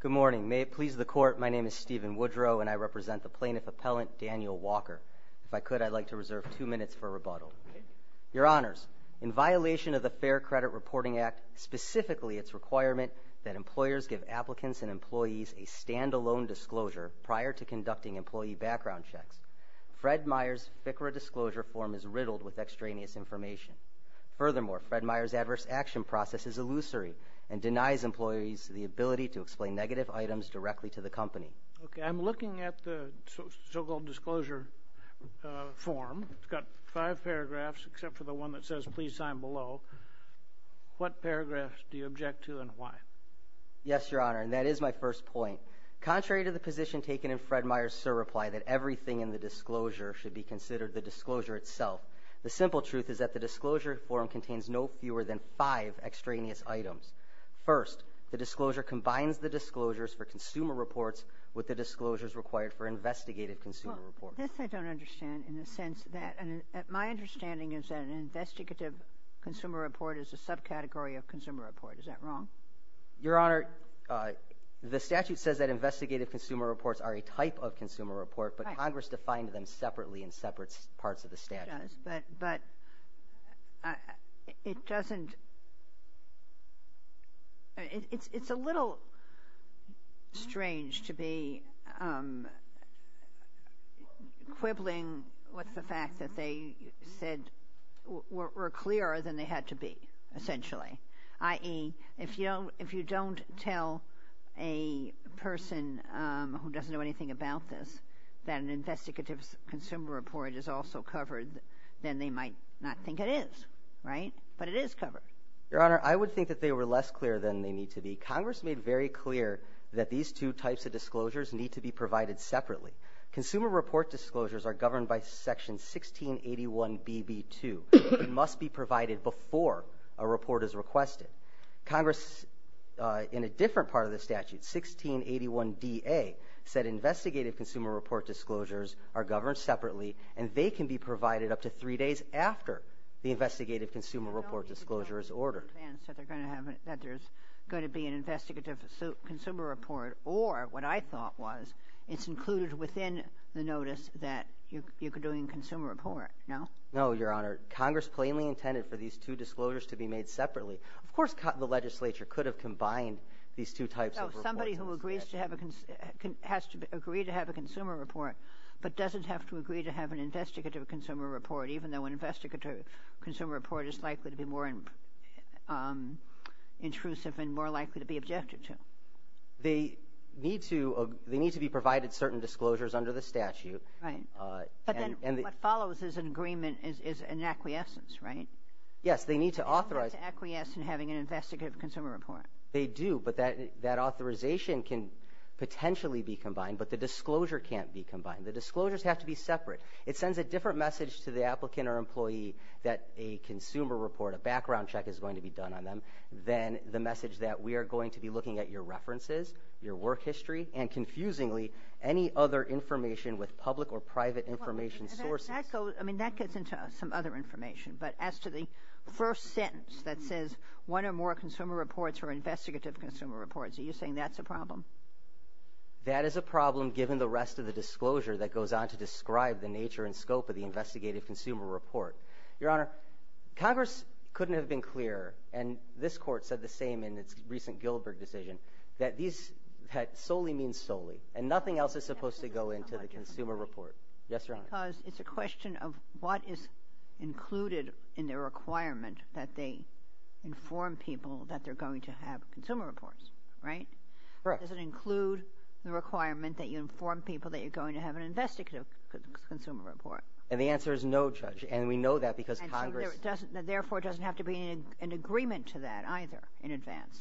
Good morning. May it please the Court, my name is Stephen Woodrow and I represent the plaintiff-appellant Daniel Walker. If I could, I'd like to reserve two minutes for rebuttal. Your Honors, in violation of the Fair Credit Reporting Act, specifically its requirement that employers give applicants and employees a stand-alone disclosure prior to conducting employee background checks, Fred Meyer's FCRA disclosure form is riddled with extraneous information. Furthermore, Fred Meyer's adverse action process is illusory and denies employees the ability to explain negative items directly to the company. Okay, I'm looking at the so-called disclosure form. It's got five paragraphs, except for the one that says, Please sign below. What paragraphs do you object to and why? Yes, Your Honor, and that is my first point. Contrary to the position taken in Fred Meyer's surreply that everything in the disclosure should be considered the disclosure itself, the simple truth is that the disclosure form contains no fewer than five extraneous items. First, the disclosure combines the disclosures for consumer reports with the disclosures required for investigative consumer reports. This I don't understand in the sense that my understanding is that an investigative consumer report is a subcategory of consumer report. Is that wrong? Your Honor, the statute says that investigative consumer reports are a type of consumer report, but Congress defined them separately in separate parts of the statute. It does, but it doesn't – it's a little strange to be quibbling with the fact that they said – were clearer than they had to be, essentially. I.e., if you don't tell a person who doesn't know anything about this that an investigative consumer report is also covered, then they might not think it is, right? But it is covered. Your Honor, I would think that they were less clear than they need to be. Congress made very clear that these two types of disclosures need to be provided separately. Consumer report disclosures are governed by Section 1681BB2 and must be provided before a report is requested. Congress, in a different part of the statute, 1681DA, said investigative consumer report disclosures are governed separately, and they can be provided up to three days after the investigative consumer report disclosure is ordered. that there's going to be an investigative consumer report or, what I thought was, it's included within the notice that you could do in consumer report, no? No, Your Honor. Congress plainly intended for these two disclosures to be made separately. Of course, the legislature could have combined these two types of reports in the statute. Somebody who agrees to have a – has to agree to have a consumer report but doesn't have to agree to have an investigative consumer report, even though an investigative consumer report is likely to be more intrusive and more likely to be objected to. They need to – they need to be provided certain disclosures under the statute. Right. But then what follows is an agreement, is an acquiescence, right? Yes, they need to authorize – They need to acquiesce in having an investigative consumer report. They do, but that authorization can potentially be combined, but the disclosure can't be combined. The disclosures have to be separate. It sends a different message to the applicant or employee that a consumer report, a background check is going to be done on them than the message that we are going to be looking at your references, your work history, and confusingly, any other information with public or private information sources. That goes – I mean, that gets into some other information, but as to the first sentence that says, one or more consumer reports or investigative consumer reports, are you saying that's a problem? That is a problem given the rest of the disclosure that goes on to describe the nature and scope of the investigative consumer report. Your Honor, Congress couldn't have been clearer, and this Court said the same in its recent Gilbert decision, that these solely means solely, and nothing else is supposed to go into the consumer report. Yes, Your Honor. Because it's a question of what is included in the requirement that they inform people that they're going to have consumer reports, right? Correct. Does it include the requirement that you inform people that you're going to have an investigative consumer report? And the answer is no, Judge, and we know that because Congress – And so therefore, it doesn't have to be an agreement to that either in advance?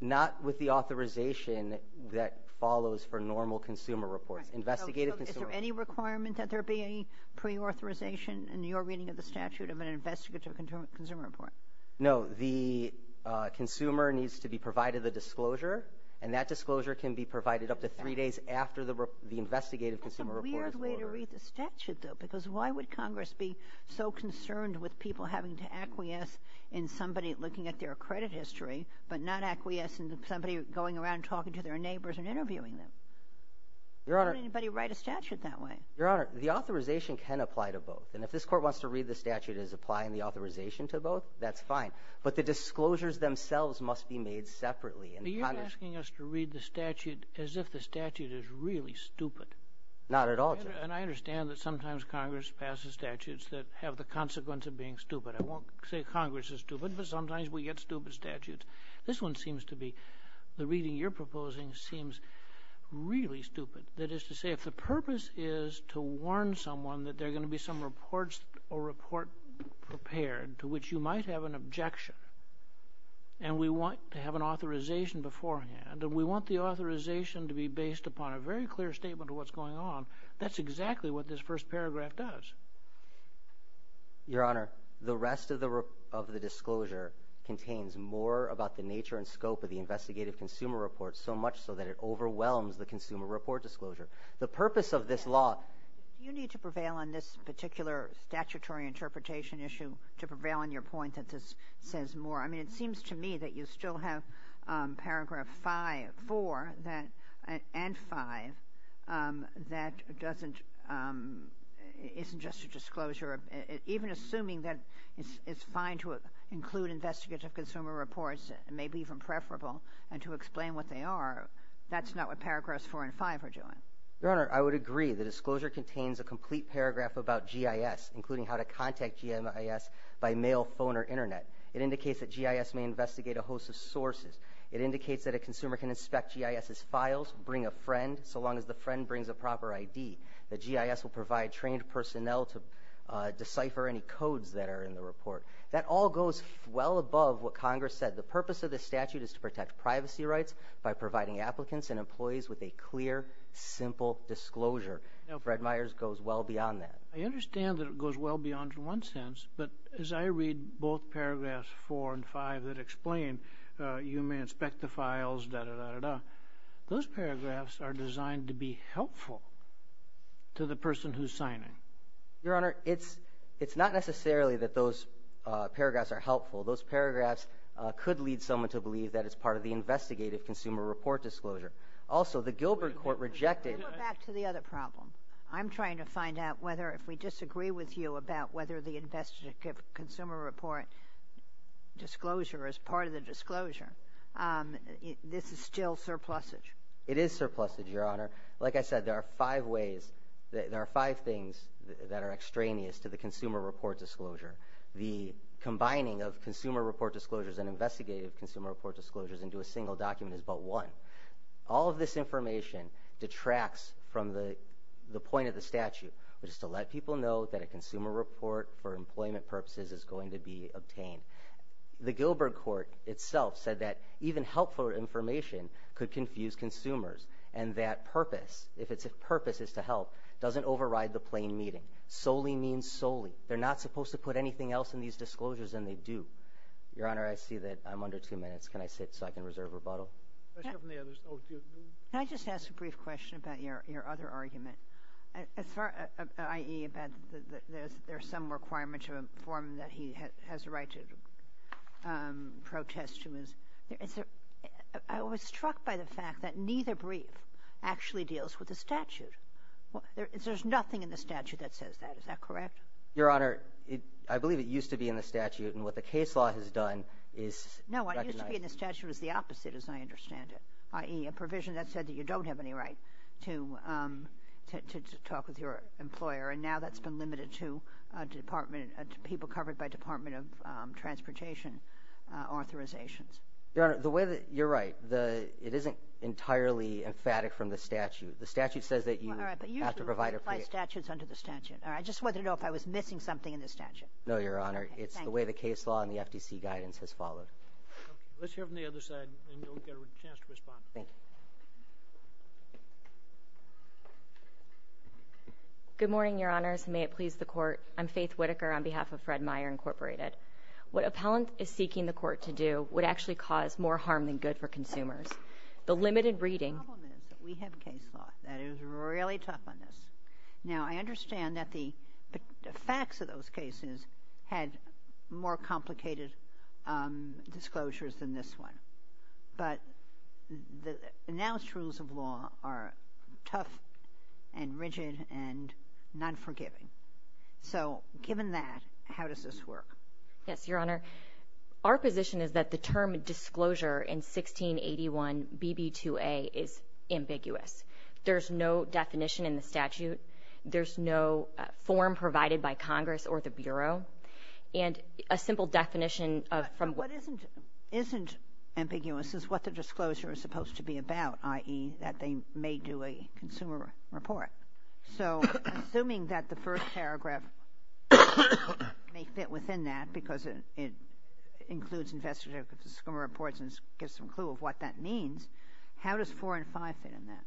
Not with the authorization that follows for normal consumer reports. Investigative consumer – So is there any requirement that there be a preauthorization in your reading of the statute of an investigative consumer report? No. The consumer needs to be provided the disclosure, and that disclosure can be provided up to three days after the investigative consumer report is over. That's a weird way to read the statute, though, because why would Congress be so concerned with people having to acquiesce in somebody looking at their credit history but not acquiesce in somebody going around talking to their neighbors and interviewing them? Your Honor – Why would anybody write a statute that way? Your Honor, the authorization can apply to both, and if this Court wants to read the statute as applying the authorization to both, that's fine, but the disclosures themselves must be made separately. But you're asking us to read the statute as if the statute is really stupid. Not at all, Judge. And I understand that sometimes Congress passes statutes that have the consequence of being stupid. I won't say Congress is stupid, but sometimes we get stupid statutes. This one seems to be – the reading you're proposing seems really stupid. That is to say, if the purpose is to warn someone that there are going to be some reports or report prepared to which you might have an objection, and we want to have an authorization beforehand, and we want the authorization to be based upon a very clear statement of what's going on, that's exactly what this first paragraph does. Your Honor, the rest of the disclosure contains more about the nature and scope of the investigative consumer report, so much so that it overwhelms the consumer report disclosure. The purpose of this law – Do you need to prevail on this particular statutory interpretation issue to prevail on your point that this says more? I mean, it seems to me that you still have paragraph 4 and 5 that isn't just a disclosure, even assuming that it's fine to include investigative consumer reports, maybe even preferable, and to explain what they are. That's not what paragraphs 4 and 5 are doing. Your Honor, I would agree. The disclosure contains a complete paragraph about GIS, including how to contact GIS by mail, phone, or Internet. It indicates that GIS may investigate a host of sources. It indicates that a consumer can inspect GIS's files, bring a friend, so long as the friend brings a proper ID. The GIS will provide trained personnel to decipher any codes that are in the report. That all goes well above what Congress said. The purpose of this statute is to protect privacy rights by providing applicants and employees with a clear, simple disclosure. Fred Myers goes well beyond that. I understand that it goes well beyond it in one sense, but as I read both paragraphs 4 and 5 that explain you may inspect the files, da-da-da-da-da, those paragraphs are designed to be helpful to the person who's signing. Your Honor, it's not necessarily that those paragraphs are helpful. Those paragraphs could lead someone to believe that it's part of the investigative consumer report disclosure. Also, the Gilbert Court rejected— Let's go back to the other problem. I'm trying to find out whether, if we disagree with you about whether the investigative consumer report disclosure is part of the disclosure, this is still surplusage. It is surplusage, Your Honor. Like I said, there are five things that are extraneous to the consumer report disclosure. The combining of consumer report disclosures and investigative consumer report disclosures into a single document is but one. All of this information detracts from the point of the statute, which is to let people know that a consumer report for employment purposes is going to be obtained. The Gilbert Court itself said that even helpful information could confuse consumers and that purpose, if purpose is to help, doesn't override the plain meaning. Solely means solely. They're not supposed to put anything else in these disclosures, and they do. Your Honor, I see that I'm under two minutes. Can I sit so I can reserve rebuttal? Can I just ask a brief question about your other argument, i.e., about there's some requirement to inform that he has a right to protest to his— I was struck by the fact that neither brief actually deals with the statute. There's nothing in the statute that says that. Is that correct? Your Honor, I believe it used to be in the statute, and what the case law has done is recognize— No, what used to be in the statute is the opposite, as I understand it, i.e., a provision that said that you don't have any right to talk with your employer, and now that's been limited to people covered by Department of Transportation authorizations. Your Honor, you're right. It isn't entirely emphatic from the statute. The statute says that you have to provide a— All right, but usually we apply statutes under the statute. I just wanted to know if I was missing something in the statute. No, Your Honor. It's the way the case law and the FTC guidance has followed. Let's hear from the other side, and you'll get a chance to respond. Thank you. Good morning, Your Honors, and may it please the Court. I'm Faith Whitaker on behalf of Fred Meyer Incorporated. What appellant is seeking the Court to do would actually cause more harm than good for consumers. The limited reading— The problem is that we have case law that is really tough on this. Now, I understand that the facts of those cases had more complicated disclosures than this one, but the announced rules of law are tough and rigid and non-forgiving. So, given that, how does this work? Yes, Your Honor, our position is that the term disclosure in 1681 BB2A is ambiguous. There's no definition in the statute. There's no form provided by Congress or the Bureau. And a simple definition of— What isn't ambiguous is what the disclosure is supposed to be about, i.e., that they may do a consumer report. So, assuming that the first paragraph may fit within that because it includes investigative disclosure reports and gives some clue of what that means, how does 4 and 5 fit in that?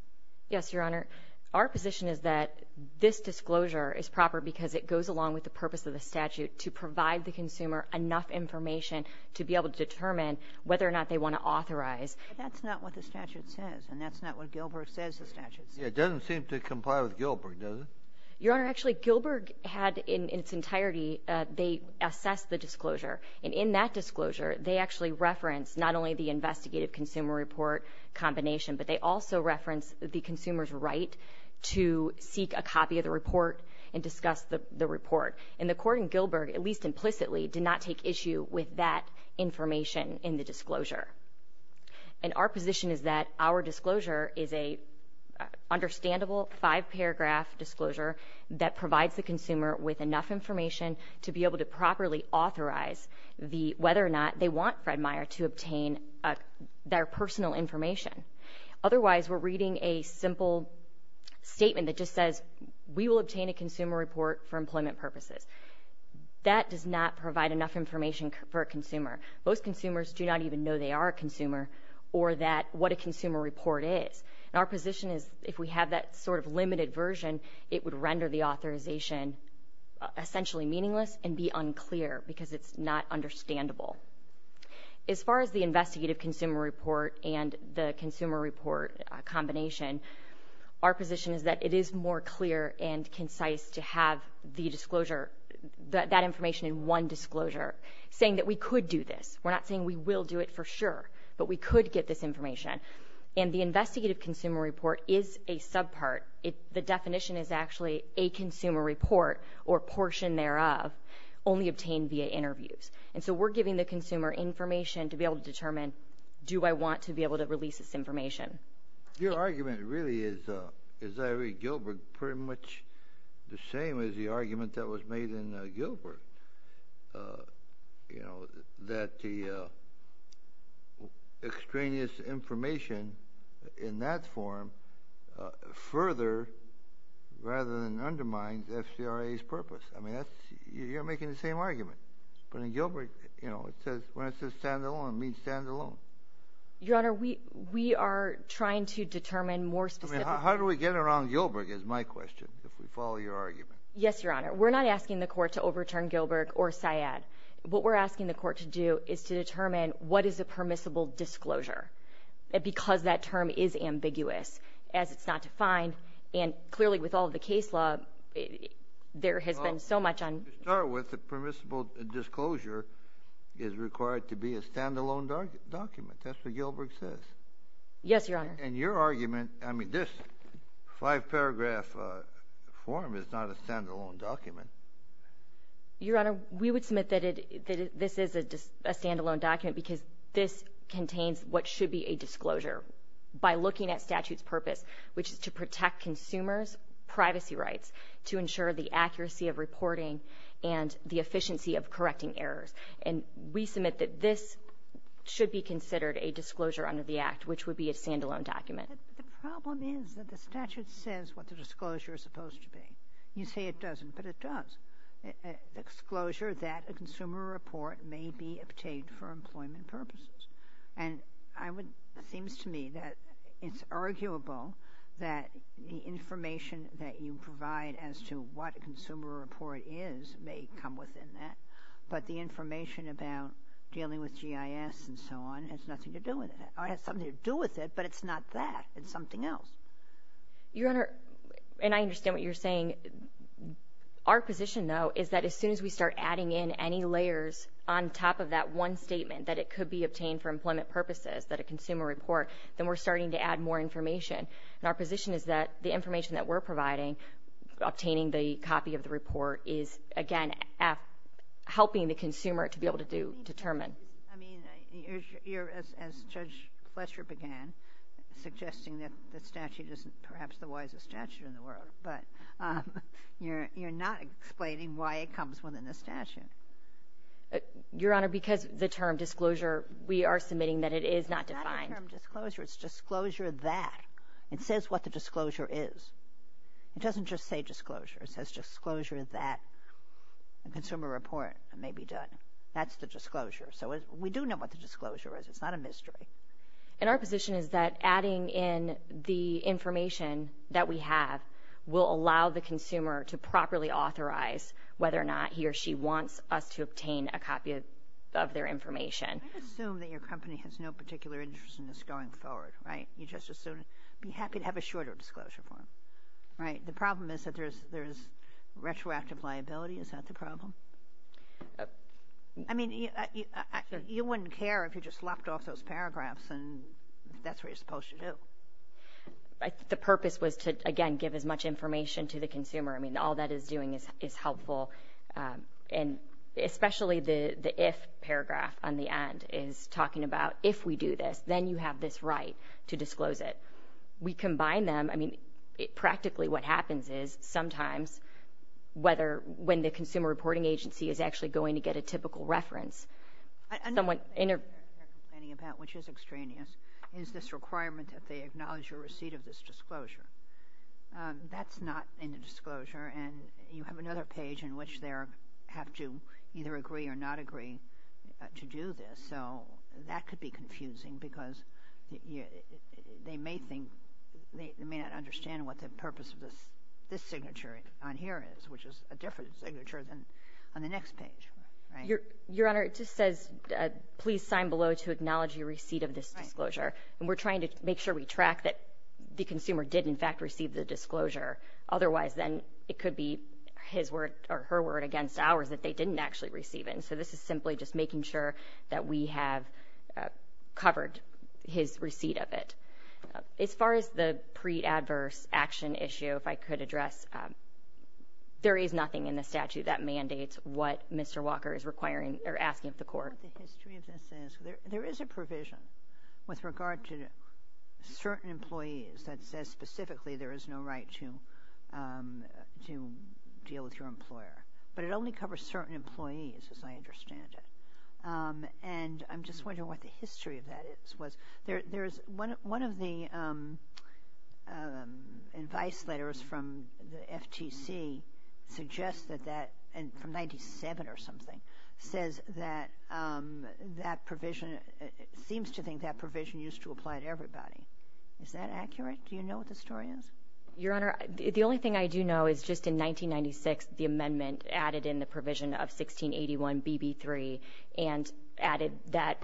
Yes, Your Honor, our position is that this disclosure is proper because it goes along with the purpose of the statute to provide the consumer enough information to be able to determine whether or not they want to authorize. But that's not what the statute says, and that's not what Gilbert says the statute says. Yeah, it doesn't seem to comply with Gilbert, does it? Your Honor, actually, Gilbert had in its entirety—they assessed the disclosure. And in that disclosure, they actually referenced not only the investigative consumer report combination, but they also referenced the consumer's right to seek a copy of the report and discuss the report. And the court in Gilbert, at least implicitly, did not take issue with that information in the disclosure. And our position is that our disclosure is an understandable five-paragraph disclosure that provides the consumer with enough information to be able to properly authorize whether or not they want Fred Meyer to obtain their personal information. Otherwise, we're reading a simple statement that just says, we will obtain a consumer report for employment purposes. That does not provide enough information for a consumer. Most consumers do not even know they are a consumer or what a consumer report is. And our position is if we have that sort of limited version, it would render the authorization essentially meaningless and be unclear because it's not understandable. As far as the investigative consumer report and the consumer report combination, our position is that it is more clear and concise to have the disclosure, that information in one disclosure, saying that we could do this. We're not saying we will do it for sure, but we could get this information. And the investigative consumer report is a subpart. The definition is actually a consumer report or portion thereof only obtained via interviews. And so we're giving the consumer information to be able to determine, do I want to be able to release this information? Your argument really is, as I read Gilbert, pretty much the same as the argument that was made in Gilbert, you know, that the extraneous information in that form further rather than undermine the FCRA's purpose. I mean, you're making the same argument. But in Gilbert, you know, when it says stand-alone, it means stand-alone. Your Honor, we are trying to determine more specific. I mean, how do we get around Gilbert is my question, if we follow your argument. Yes, Your Honor. We're not asking the court to overturn Gilbert or Syed. What we're asking the court to do is to determine what is a permissible disclosure because that term is ambiguous as it's not defined. And clearly with all of the case law, there has been so much on. To start with, the permissible disclosure is required to be a stand-alone document. That's what Gilbert says. Yes, Your Honor. And your argument, I mean, this five-paragraph form is not a stand-alone document. Your Honor, we would submit that this is a stand-alone document because this contains what should be a disclosure by looking at statute's purpose, which is to protect consumers' privacy rights to ensure the accuracy of reporting and the efficiency of correcting errors. And we submit that this should be considered a disclosure under the Act, which would be a stand-alone document. But the problem is that the statute says what the disclosure is supposed to be. You say it doesn't, but it does. Exclosure that a consumer report may be obtained for employment purposes. And it seems to me that it's arguable that the information that you provide as to what a consumer report is may come within that, but the information about dealing with GIS and so on has nothing to do with it. It has something to do with it, but it's not that. It's something else. Your Honor, and I understand what you're saying. Our position, though, is that as soon as we start adding in any layers on top of that one statement that it could be obtained for employment purposes, that a consumer report, then we're starting to add more information. And our position is that the information that we're providing, obtaining the copy of the report, is, again, helping the consumer to be able to determine. I mean, you're, as Judge Fletcher began, suggesting that the statute is perhaps the wisest statute in the world, but you're not explaining why it comes within the statute. Your Honor, because the term disclosure, we are submitting that it is not defined. It's not a term disclosure. It's disclosure that. It says what the disclosure is. It doesn't just say disclosure. It says disclosure that a consumer report may be done. That's the disclosure. So we do know what the disclosure is. It's not a mystery. And our position is that adding in the information that we have will allow the consumer to properly authorize whether or not he or she wants us to obtain a copy of their information. I assume that your company has no particular interest in this going forward, right? You just assume. I'd be happy to have a shorter disclosure form, right? The problem is that there is retroactive liability. Is that the problem? I mean, you wouldn't care if you just left off those paragraphs and that's what you're supposed to do. The purpose was to, again, give as much information to the consumer. I mean, all that is doing is helpful, and especially the if paragraph on the end is talking about if we do this, then you have this right to disclose it. We combine them. I mean, practically what happens is sometimes whether when the consumer reporting agency is actually going to get a typical reference. Another thing they're complaining about, which is extraneous, is this requirement that they acknowledge your receipt of this disclosure. That's not in the disclosure, and you have another page in which they have to either agree or not agree to do this. So that could be confusing because they may not understand what the purpose of this signature on here is, which is a different signature than on the next page. Your Honor, it just says, please sign below to acknowledge your receipt of this disclosure, and we're trying to make sure we track that the consumer did in fact receive the disclosure. Otherwise, then it could be his word or her word against ours that they didn't actually receive it, and so this is simply just making sure that we have covered his receipt of it. As far as the pre-adverse action issue, if I could address, there is nothing in the statute that mandates what Mr. Walker is asking of the court. The history of this is there is a provision with regard to certain employees that says specifically there is no right to deal with your employer, but it only covers certain employees as I understand it. And I'm just wondering what the history of that is. One of the advice letters from the FTC suggests that that, from 1997 or something, says that that provision seems to think that provision used to apply to everybody. Is that accurate? Do you know what the story is? Your Honor, the only thing I do know is just in 1996, the amendment added in the provision of 1681 BB3 and added that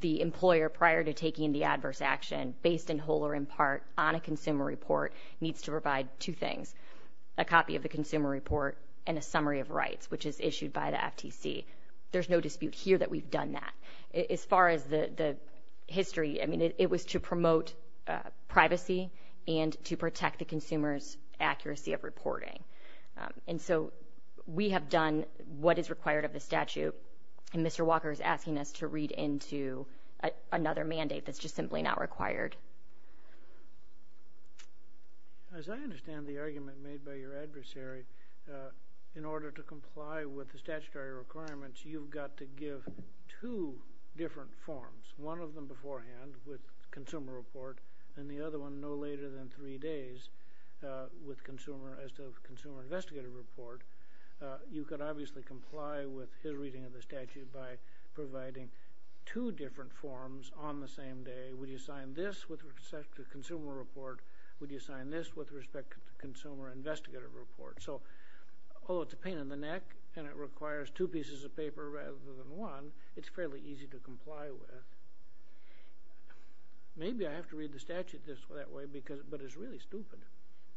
the employer, prior to taking the adverse action, based in whole or in part on a consumer report, needs to provide two things, a copy of the consumer report and a summary of rights, which is issued by the FTC. There's no dispute here that we've done that. As far as the history, I mean it was to promote privacy and to protect the consumer's accuracy of reporting. And so we have done what is required of the statute. And Mr. Walker is asking us to read into another mandate that's just simply not required. As I understand the argument made by your adversary, in order to comply with the statutory requirements, you've got to give two different forms, one of them beforehand with consumer report and the other one no later than three days as to the consumer investigative report. You could obviously comply with his reading of the statute by providing two different forms on the same day. Would you sign this with respect to consumer report? Would you sign this with respect to consumer investigative report? So although it's a pain in the neck and it requires two pieces of paper rather than one, it's fairly easy to comply with. Maybe I have to read the statute that way, but it's really stupid.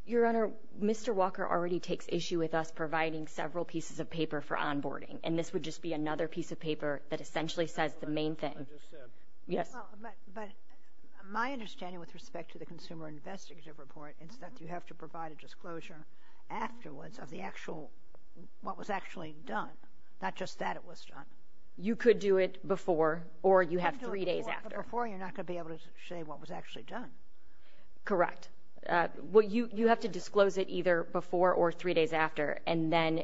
Your Honor, Mr. Walker already takes issue with us providing several pieces of paper for onboarding, and this would just be another piece of paper that essentially says the main thing. I just said. Yes. But my understanding with respect to the consumer investigative report is that you have to provide a disclosure afterwards of what was actually done, not just that it was done. You could do it before or you have three days after. Before you're not going to be able to say what was actually done. Correct. Well, you have to disclose it either before or three days after, and then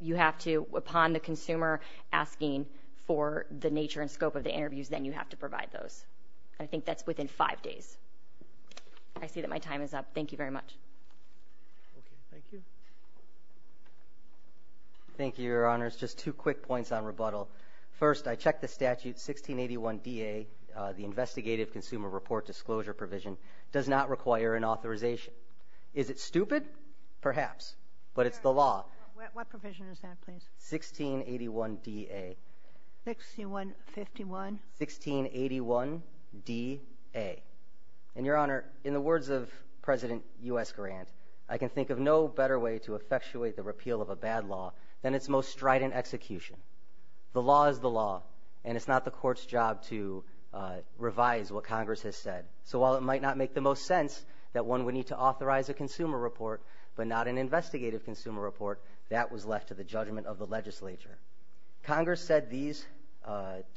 you have to, upon the consumer asking for the nature and scope of the interviews, then you have to provide those. I think that's within five days. I see that my time is up. Thank you very much. Okay. Thank you. Thank you, Your Honors. Just two quick points on rebuttal. First, I check the statute 1681-DA, the investigative consumer report disclosure provision, does not require an authorization. Is it stupid? Perhaps. But it's the law. What provision is that, please? 1681-DA. 1651? 1681-DA. And, Your Honor, in the words of President U.S. Grant, I can think of no better way to effectuate the repeal of a bad law than its most strident execution. The law is the law, and it's not the court's job to revise what Congress has said. So while it might not make the most sense that one would need to authorize a consumer report, but not an investigative consumer report, that was left to the judgment of the legislature. Congress said these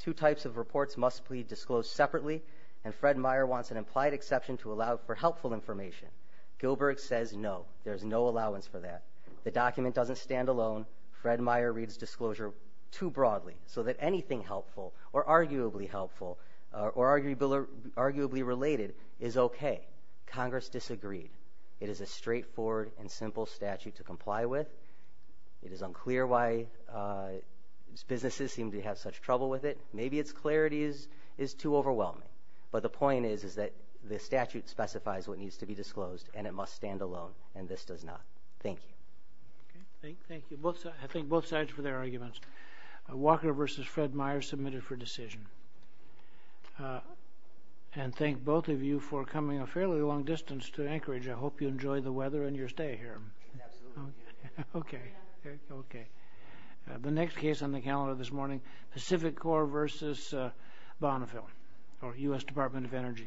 two types of reports must be disclosed separately, and Fred Meyer wants an implied exception to allow for helpful information. Gilbert says no. There's no allowance for that. The document doesn't stand alone. Fred Meyer reads disclosure too broadly, so that anything helpful or arguably helpful or arguably related is okay. Congress disagreed. It is a straightforward and simple statute to comply with. It is unclear why businesses seem to have such trouble with it. Maybe its clarity is too overwhelming, but the point is that the statute specifies what needs to be disclosed, and it must stand alone, and this does not. Thank you. Thank you. I thank both sides for their arguments. Walker v. Fred Meyer submitted for decision. And thank both of you for coming a fairly long distance to Anchorage. I hope you enjoy the weather and your stay here. Absolutely. Okay. Okay. The next case on the calendar this morning, Pacific Corp. v. Bonneville, or U.S. Department of Energy.